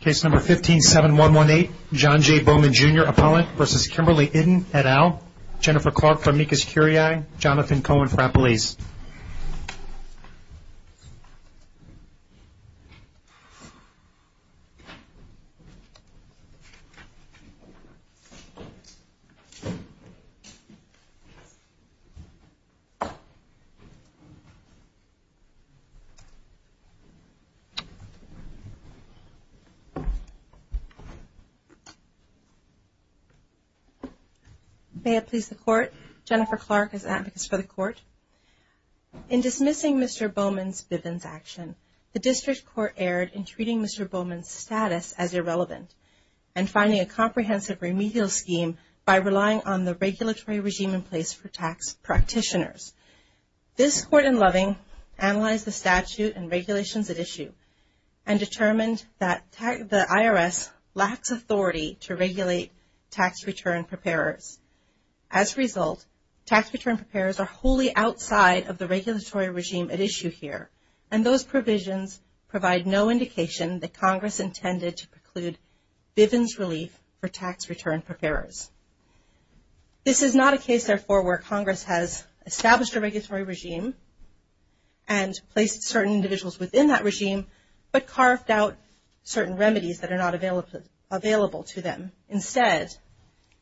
Case No. 15-7118, John J. Bowman, Jr. appellant v. Kimberly Iddon et al., Jennifer Clark-Farmigas-Curiai, Jonathan Cohen for Appalachia. May it please the Court, Jennifer Clark is Advocates for the Court. In dismissing Mr. Bowman's Bivens action, the District Court erred in treating Mr. Bowman's status as irrelevant and finding a comprehensive remedial scheme by relying on the regulatory regime in place for tax practitioners. This Court in Loving analyzed the statute and regulations at issue and determined that the IRS lacks authority to regulate tax return preparers. As a result, tax return preparers are wholly outside of the regulatory regime at issue here and those provisions provide no indication that Congress intended to preclude Bivens relief for tax return preparers. This is not a case, therefore, where Congress has established a regulatory regime and placed certain individuals within that regime but carved out certain remedies that are not available to them. Instead,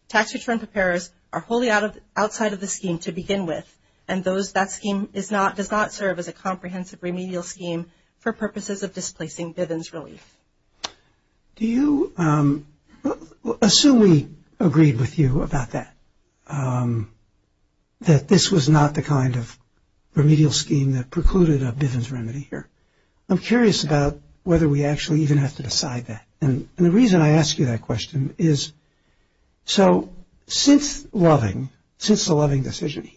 tax return preparers are wholly outside of the scheme to begin with and that scheme does not serve as a comprehensive remedial scheme for purposes of displacing Bivens relief. Do you – assume we agreed with you about that, that this was not the kind of remedial scheme that precluded a Bivens remedy here. I'm curious about whether we actually even have to decide that and the reason I ask you that question is so since Loving, since the Loving decision,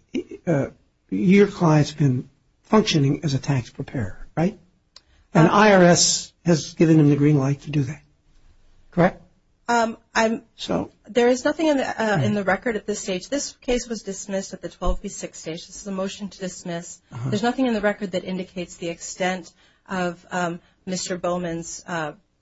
your client's been functioning as a tax preparer, right? And IRS has given him the green light to do that, correct? I'm – there is nothing in the record at this stage. This case was dismissed at the 12 v. 6 stage. This is a motion to dismiss. There's nothing in the record that indicates the extent of Mr. Bowman's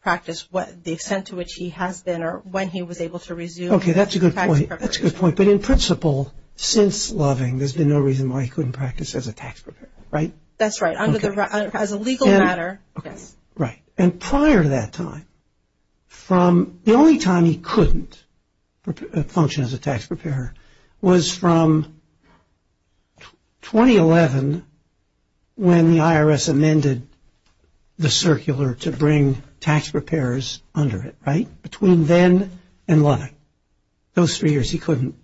practice, the extent to which he has been or when he was able to resume. Okay. That's a good point. That's a good point. But in principle, since Loving, there's been no reason why he couldn't practice as a tax preparer, right? That's right. Under the – as a legal matter, yes. Right. And prior to that time, from – the only time he couldn't function as a tax preparer was from 2011 when the IRS amended the circular to bring tax preparers under it, right? Between then and Loving, those three years he couldn't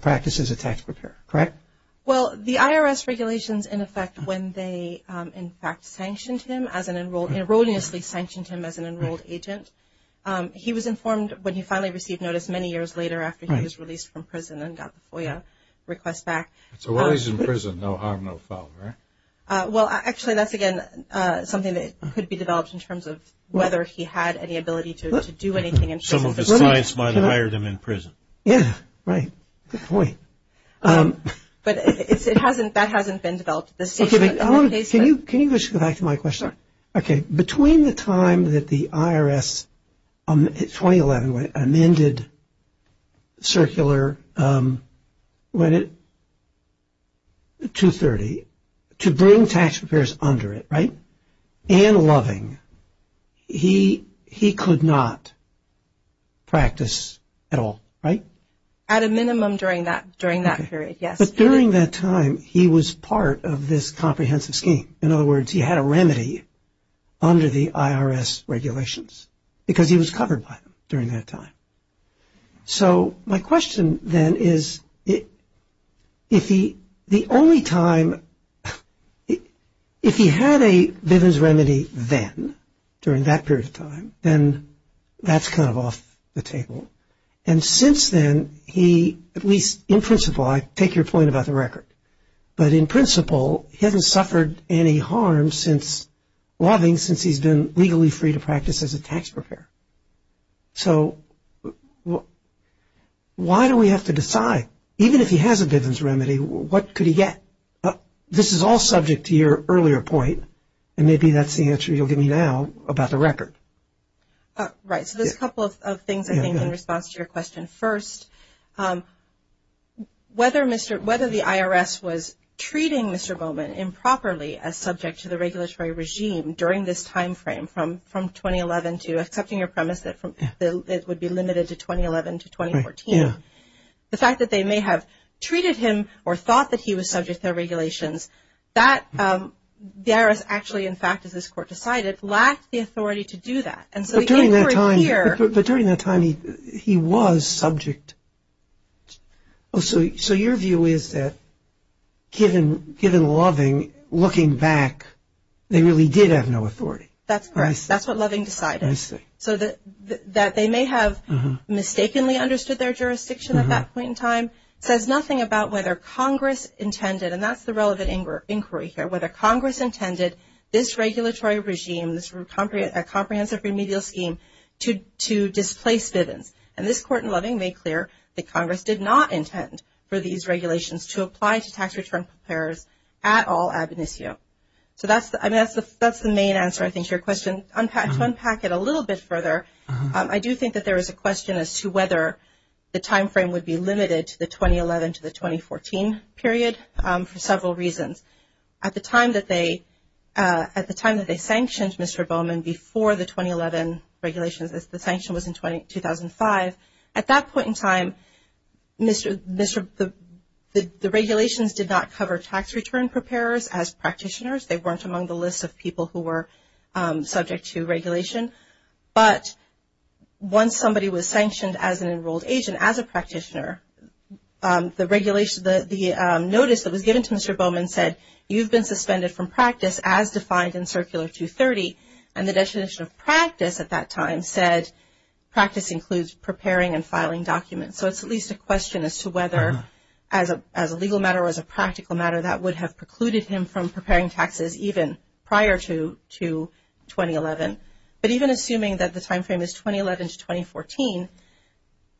practice as a tax preparer, correct? Well, the IRS regulations, in effect, when they, in fact, sanctioned him as an – erroneously sanctioned him as an enrolled agent, he was informed when he finally received notice many years later after he was released from prison and got the FOIA request back. So while he's in prison, no harm, no foul, right? Well, actually, that's, again, something that could be developed in terms of whether he had any ability to do anything in prison. Some of his clients might have hired him in prison. Yeah. Right. Good point. But it's – it hasn't – that hasn't been developed at this point. Okay. But I want to – can you just go back to my question? Okay. Between the time that the IRS, in 2011, when it amended the circular, when it – 2-30, to bring tax preparers under it, right, and Loving, he could not practice at all, right? At a minimum during that – during that period, yes. Okay. But during that time, he was part of this comprehensive scheme. In other words, he had a remedy under the IRS regulations because he was covered by them during that time. So my question, then, is if he – the only time – if he had a Bivens remedy then, during And since then, he – at least in principle, I take your point about the record. But in principle, he hasn't suffered any harm since – Loving, since he's been legally free to practice as a tax preparer. So why do we have to decide? Even if he has a Bivens remedy, what could he get? This is all subject to your earlier point, and maybe that's the answer you'll give me now about the record. Right. So there's a couple of things, I think, in response to your question. First, whether Mr. – whether the IRS was treating Mr. Bowman improperly as subject to the regulatory regime during this time frame from 2011 to – accepting your premise that from – that it would be limited to 2011 to 2014, the fact that they may have treated him or thought that he was subject to the regulations, that – the IRS actually, in fact, as this Court decided, lacked the authority to do that. But during that time – but during that time, he was subject – oh, so your view is that, given Loving, looking back, they really did have no authority. That's correct. I see. That's what Loving decided. I see. So that they may have mistakenly understood their jurisdiction at that point in time says nothing about whether Congress intended – and that's the relevant inquiry here – whether to displace Bivens. And this Court in Loving made clear that Congress did not intend for these regulations to apply to tax return payers at all ad bonisio. So that's the – I mean, that's the main answer, I think, to your question. To unpack it a little bit further, I do think that there is a question as to whether the time frame would be limited to the 2011 to the 2014 period for several reasons. At the time that they – at the time that they sanctioned Mr. Bowman before the 2011 regulations, the sanction was in 2005. At that point in time, the regulations did not cover tax return preparers as practitioners. They weren't among the list of people who were subject to regulation. But once somebody was sanctioned as an enrolled agent, as a practitioner, the regulation – the statute – you've been suspended from practice as defined in Circular 230. And the definition of practice at that time said practice includes preparing and filing documents. So it's at least a question as to whether as a legal matter or as a practical matter that would have precluded him from preparing taxes even prior to 2011. But even assuming that the time frame is 2011 to 2014,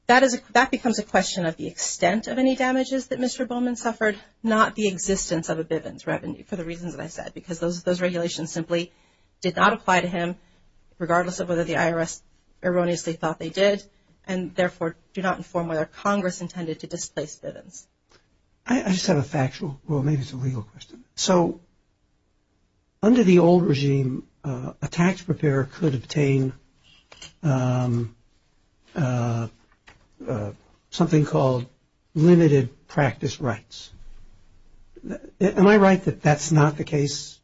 that becomes a question of the extent of any damages that Mr. Bowman suffered, not the existence of a Bivens revenue for the reasons that I said because those regulations simply did not apply to him regardless of whether the IRS erroneously thought they did and therefore do not inform whether Congress intended to displace Bivens. I just have a factual – well, maybe it's a legal question. So under the old regime, a tax preparer could obtain something called limited practice rights. Am I right that that's not the case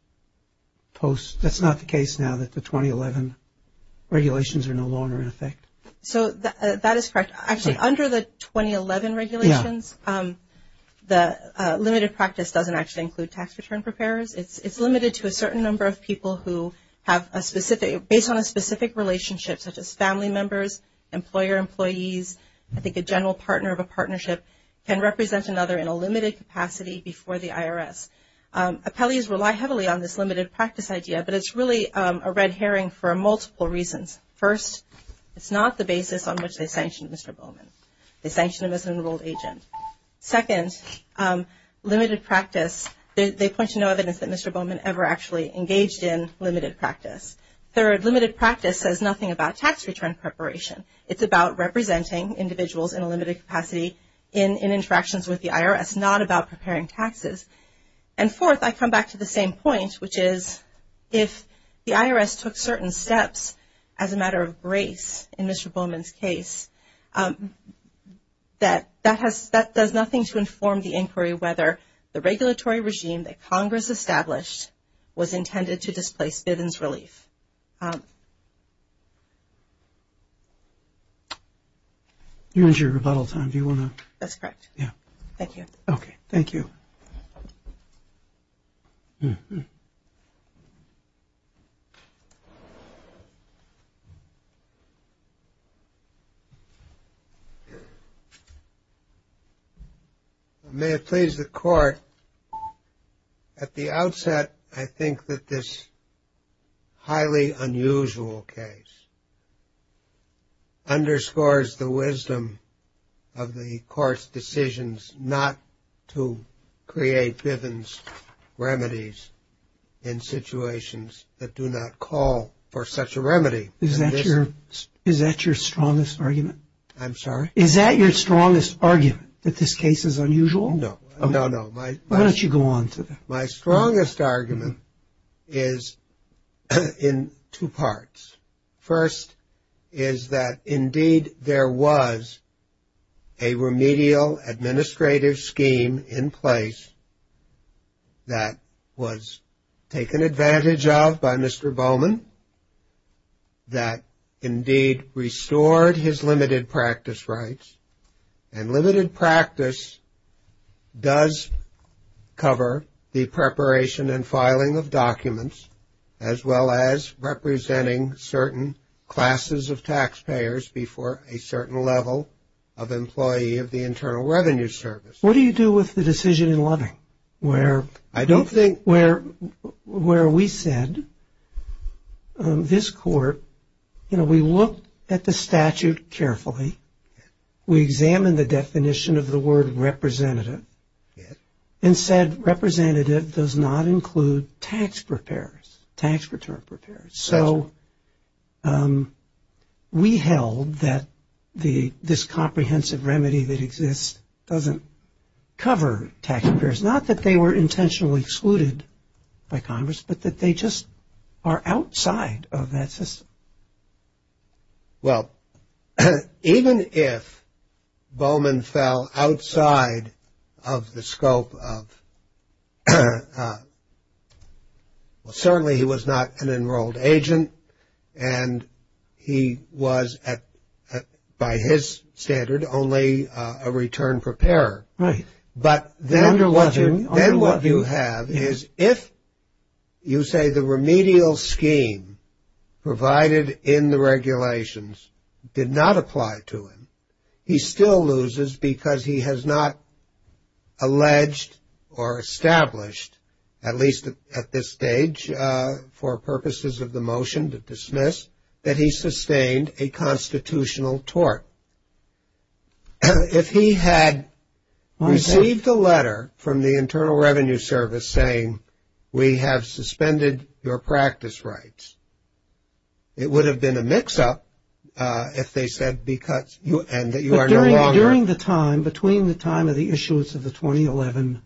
post – that's not the case now that the 2011 regulations are no longer in effect? So that is correct. Actually, under the 2011 regulations, the limited practice doesn't actually include tax return preparers. It's limited to a certain number of people who have a specific – based on a specific relationship such as family members, employer employees, I think a general partner of a partnership can represent another in a limited capacity before the IRS. Appellees rely heavily on this limited practice idea, but it's really a red herring for multiple reasons. First, it's not the basis on which they sanctioned Mr. Bowman. They sanctioned him as an enrolled agent. Second, limited practice – they point to no evidence that Mr. Bowman ever actually engaged in limited practice. Third, limited practice says nothing about tax return preparation. It's about representing individuals in a limited capacity in interactions with the IRS, not about preparing taxes. And fourth, I come back to the same point, which is if the IRS took certain steps as a matter of grace in Mr. Bowman's case, that that has – that does nothing to inform the inquiry whether the regulatory regime that Congress established was intended to displace Bivens relief. You're into your rebuttal time. Do you want to – That's correct. Yeah. Thank you. Okay. Thank you. Thank you. May it please the court, at the outset, I think that this highly unusual case underscores the wisdom of the court's decisions to create Bivens remedies in situations that do not call for such a remedy. Is that your strongest argument? I'm sorry? Is that your strongest argument, that this case is unusual? No. No, no. Why don't you go on to that? My strongest argument is in two parts. First is that indeed there was a remedial administrative scheme in place that was taken advantage of by Mr. Bowman that indeed restored his limited practice rights. And limited practice does cover the preparation and filing of documents, as well as representing certain classes of taxpayers before a certain level of employee of the Internal Revenue Service. What do you do with the decision in Loving where – I don't think – where we said, this court, you know, we looked at the statute carefully, we examined the definition of the word representative, and said representative does not include tax preparers, tax return preparers. So we held that this comprehensive remedy that exists doesn't cover tax preparers. It's not that they were intentionally excluded by Congress, but that they just are outside of that system. Well, even if Bowman fell outside of the scope of – well, certainly he was not an enrolled agent, and he was, by his standard, only a return preparer. Right. Then what you have is if you say the remedial scheme provided in the regulations did not apply to him, he still loses because he has not alleged or established, at least at this stage for purposes of the motion to dismiss, that he sustained a constitutional tort. If he had received a letter from the Internal Revenue Service saying we have suspended your practice rights, it would have been a mix-up if they said because – and that you are no longer – During the time, between the time of the issuance of the 2011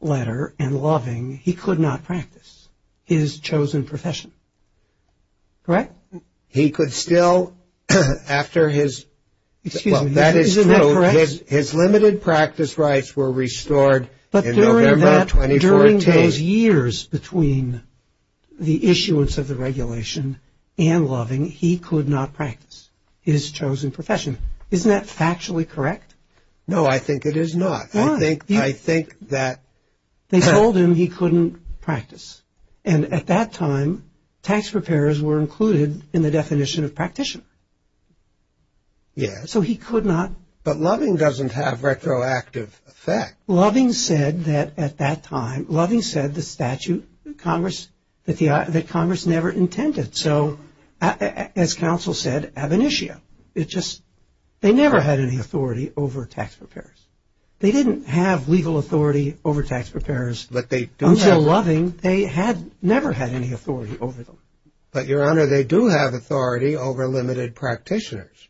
letter and Loving, he could not practice his chosen profession. Correct? Well, he could still, after his – Excuse me. Well, that is true. Isn't that correct? His limited practice rights were restored in November of 2014. But during those years between the issuance of the regulation and Loving, he could not practice his chosen profession. Isn't that factually correct? No, I think it is not. Why? I think that – They told him he couldn't practice. And at that time, tax preparers were included in the definition of practitioner. Yes. So he could not – But Loving doesn't have retroactive effect. Loving said that at that time, Loving said the statute that Congress never intended. So, as counsel said, ab initio. It just – they never had any authority over tax preparers. They didn't have legal authority over tax preparers. But they – Until Loving, they had – never had any authority over them. But, Your Honor, they do have authority over limited practitioners.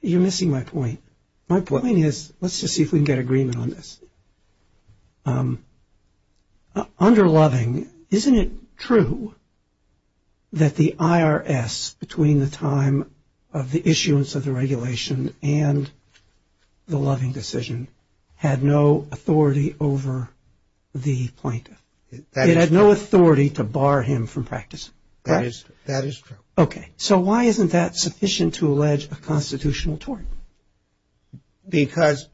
You're missing my point. My point is – let's just see if we can get agreement on this. Under Loving, isn't it true that the IRS, between the time of the issuance of the regulation and the Loving decision, had no authority over the plaintiff? It had no authority to bar him from practice. That is true. Okay. So why isn't that sufficient to allege a constitutional tort? Because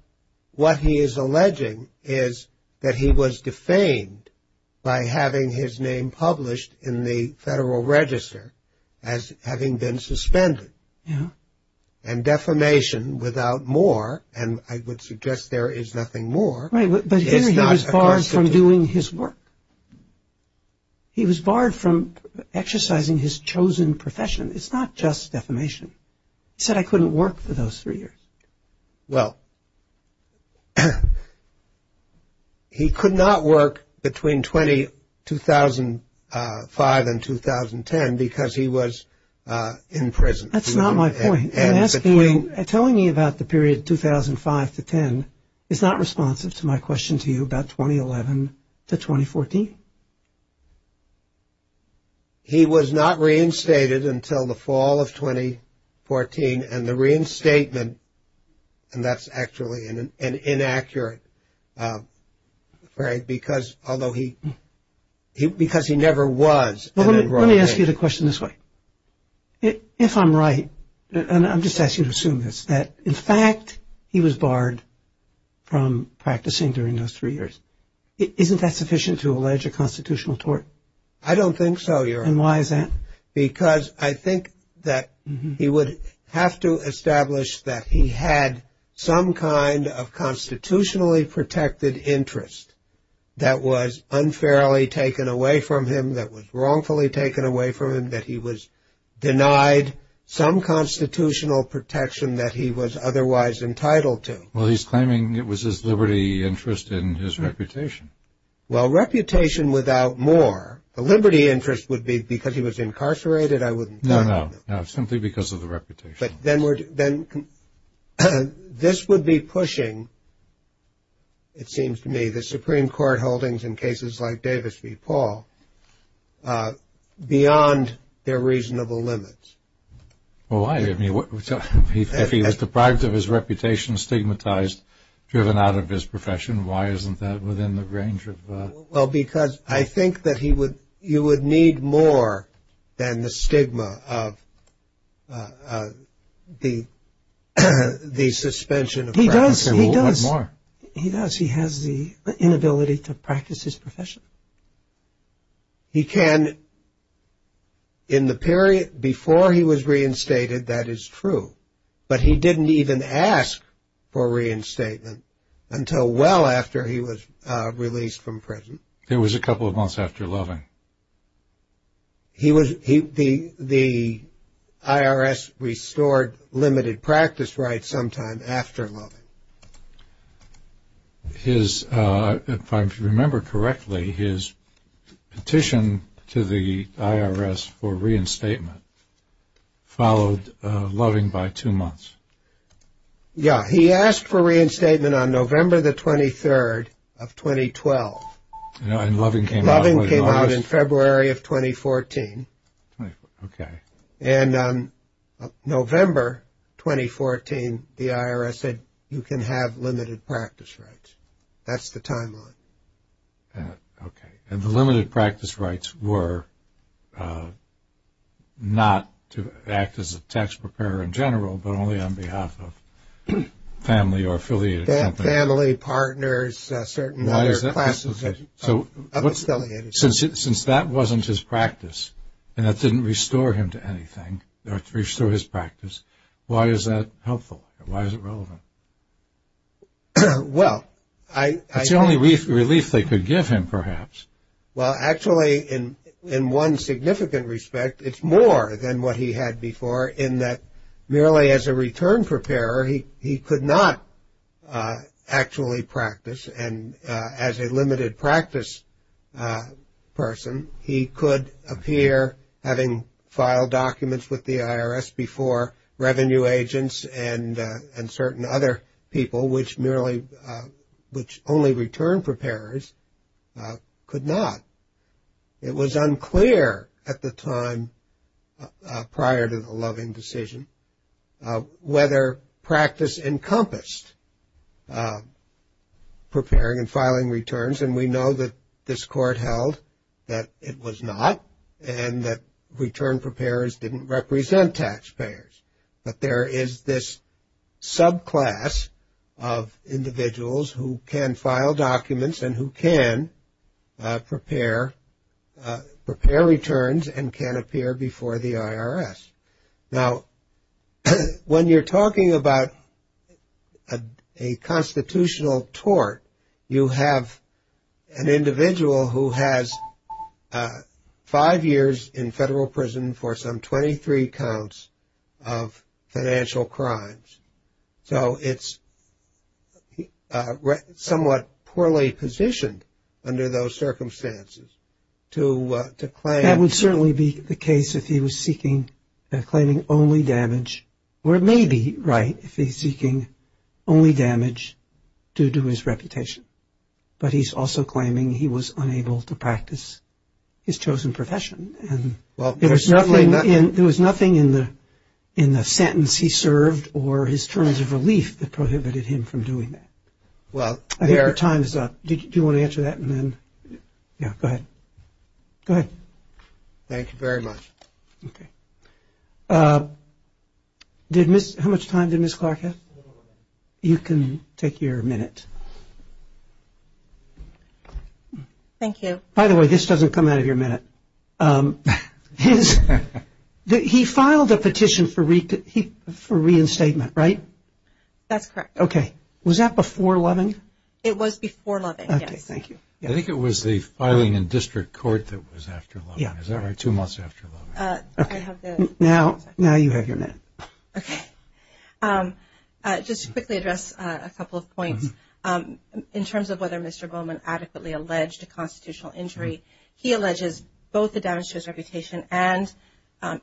what he is alleging is that he was defamed by having his name published in the Federal Register as having been suspended. Yeah. And defamation without more – and I would suggest there is nothing more – Right, but here he was barred from doing his work. He was barred from exercising his chosen profession. It's not just defamation. He said, I couldn't work for those three years. Well, he could not work between 2005 and 2010 because he was in prison. That's not my point. I'm asking you – telling me about the period 2005 to 2010 is not responsive to my question to you about 2011 to 2014. He was not reinstated until the fall of 2014, and the reinstatement – and that's actually an inaccurate – because he never was an enrolled man. Let me ask you the question this way. If I'm right, and I'm just asking you to assume this, that in fact he was barred from practicing during those three years, isn't that sufficient to allege a constitutional tort? I don't think so, Your Honor. And why is that? Because I think that he would have to establish that he had some kind of constitutionally protected interest that was unfairly taken away from him, that was wrongfully taken away from him, that he was denied some constitutional protection that he was otherwise entitled to. Well, he's claiming it was his liberty interest in his reputation. Well, reputation without more. The liberty interest would be because he was incarcerated, I wouldn't deny that. No, no. Simply because of the reputation. But then this would be pushing, it seems to me, the Supreme Court holdings in cases like Davis v. Paul, beyond their reasonable limits. Well, why? If he was deprived of his reputation, stigmatized, driven out of his profession, why isn't that within the range of? Well, because I think that you would need more than the stigma of the suspension of practice. He does. He does. He has the inability to practice his profession. He can in the period before he was reinstated, that is true. But he didn't even ask for reinstatement until well after he was released from prison. It was a couple of months after Loving. The IRS restored limited practice rights sometime after Loving. If I remember correctly, his petition to the IRS for reinstatement followed Loving by two months. Yeah. He asked for reinstatement on November the 23rd of 2012. And Loving came out. Loving came out in February of 2014. Okay. And on November 2014, the IRS said you can have limited practice rights. That's the timeline. Okay. And the limited practice rights were not to act as a tax preparer in general, but only on behalf of family or affiliated company. Family, partners, certain other classes. Since that wasn't his practice and that didn't restore him to anything, or restore his practice, why is that helpful? Why is it relevant? Well, I think. That's the only relief they could give him, perhaps. Well, actually, in one significant respect, it's more than what he had before in that merely as a return preparer, he could not actually practice. And as a limited practice person, he could appear having filed documents with the IRS before revenue agents and certain other people, which merely which only return preparers could not. It was unclear at the time prior to the Loving decision whether practice encompassed preparing and filing returns. And we know that this court held that it was not and that return preparers didn't represent taxpayers. But there is this subclass of individuals who can file documents and who can prepare returns and can appear before the IRS. Now, when you're talking about a constitutional tort, you have an individual who has five years in federal prison for some 23 counts of financial crimes. So it's somewhat poorly positioned under those circumstances to claim. That would certainly be the case if he was seeking or claiming only damage. Or it may be right if he's seeking only damage due to his reputation. But he's also claiming he was unable to practice his chosen profession. And there was nothing in the sentence he served or his terms of relief that prohibited him from doing that. Well, there. I think the time is up. Do you want to answer that? Go ahead. Thank you very much. How much time did Ms. Clark have? You can take your minute. Thank you. By the way, this doesn't come out of your minute. He filed a petition for reinstatement, right? That's correct. Okay. Was that before Loving? It was before Loving, yes. Okay. Thank you. I think it was the filing in district court that was after Loving. Is that right? Two months after Loving. Now you have your minute. Okay. Just to quickly address a couple of points. In terms of whether Mr. Bowman adequately alleged a constitutional injury, he alleges both the damage to his reputation and,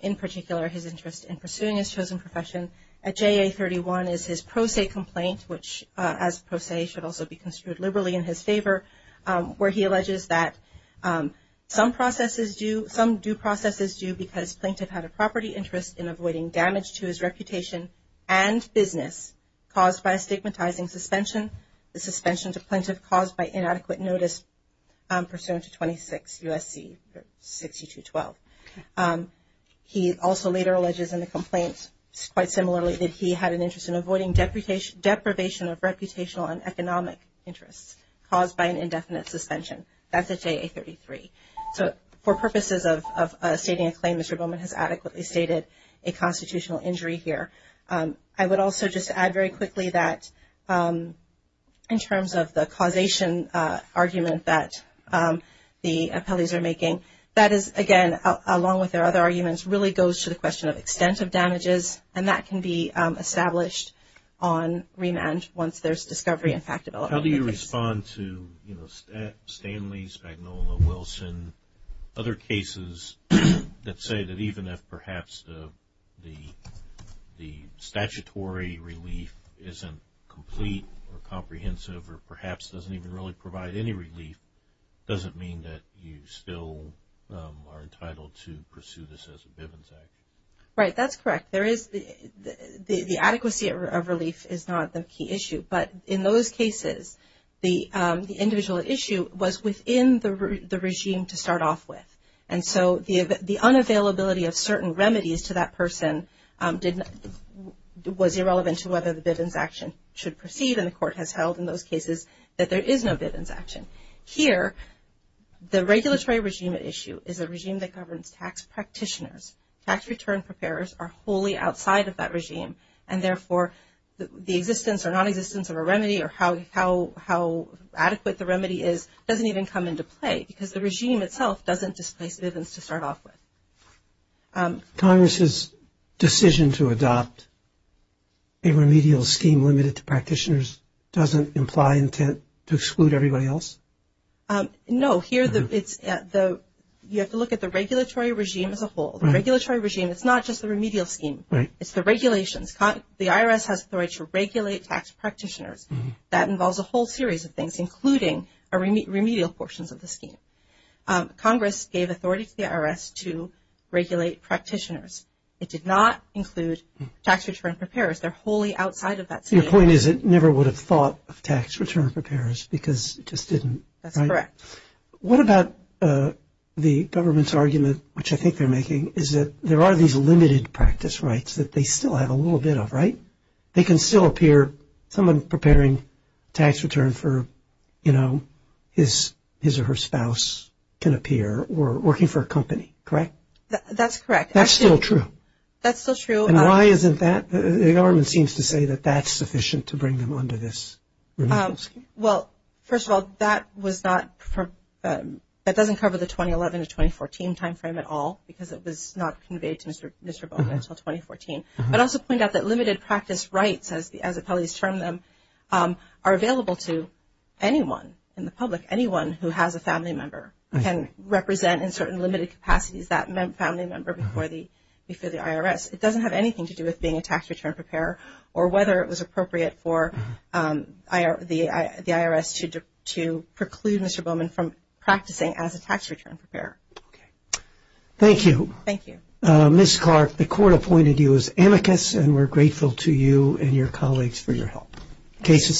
in particular, his interest in pursuing his chosen profession. He also alleges in the complaint, quite simply, that the plaintiff had no interest in pursuing his chosen profession. At JA31 is his pro se complaint, which as pro se should also be construed liberally in his favor, where he alleges that some due process is due because plaintiff had a property interest in avoiding damage to his reputation and business caused by a stigmatizing suspension. He also alleges in the complaint, quite similarly, that he had an interest in avoiding deprivation of reputational and economic interests caused by an indefinite suspension. That's at JA33. So for purposes of stating a claim, Mr. Bowman has adequately stated a constitutional injury here. In terms of the causation argument that the appellees are making, that is, again, along with their other arguments, really goes to the question of extent of damages, and that can be established on remand once there's discovery and fact development. How do you respond to, you know, Stanley, Spagnuolo, Wilson, other cases that say that even if perhaps the statutory relief isn't complete or comprehensive or perhaps doesn't even really provide any relief, does it mean that you still are entitled to pursue this as a Bivens action? Right, that's correct. The adequacy of relief is not the key issue, but in those cases the individual issue was within the regime to start off with. And so the unavailability of certain remedies to that person was irrelevant to whether the Bivens action should proceed, and the Court has held in those cases that there is no Bivens action. Here, the regulatory regime at issue is a regime that governs tax practitioners. Tax return preparers are wholly outside of that regime, and therefore the existence or nonexistence of a remedy or how adequate the remedy is doesn't even come into play, because the regime itself doesn't displace Bivens to start off with. Congress's decision to adopt a remedial scheme limited to practitioners doesn't imply intent to exclude everybody else? No. You have to look at the regulatory regime as a whole. The regulatory regime is not just the remedial scheme. It's the regulations. The IRS has authority to regulate tax practitioners. Congress gave authority to the IRS to regulate practitioners. It did not include tax return preparers. They're wholly outside of that scheme. Your point is it never would have thought of tax return preparers because it just didn't, right? That's correct. What about the government's argument, which I think they're making, is that there are these limited practice rights that they still have a little bit of, right? They can still appear, someone preparing tax return for, you know, his or her spouse can appear or working for a company, correct? That's correct. That's still true. That's still true. And why isn't that? The government seems to say that that's sufficient to bring them under this remedial scheme. Well, first of all, that doesn't cover the 2011 to 2014 timeframe at all because it was not conveyed to Mr. Bowman until 2014. I'd also point out that limited practice rights, as appellees term them, are available to anyone in the public, anyone who has a family member, can represent in certain limited capacities that family member before the IRS. It doesn't have anything to do with being a tax return preparer or whether it was appropriate for the IRS to preclude Mr. Bowman from practicing as a tax return preparer. Okay. Thank you. Thank you. Ms. Clark, the court appointed you as amicus, and we're grateful to you and your colleagues for your help. Case is submitted.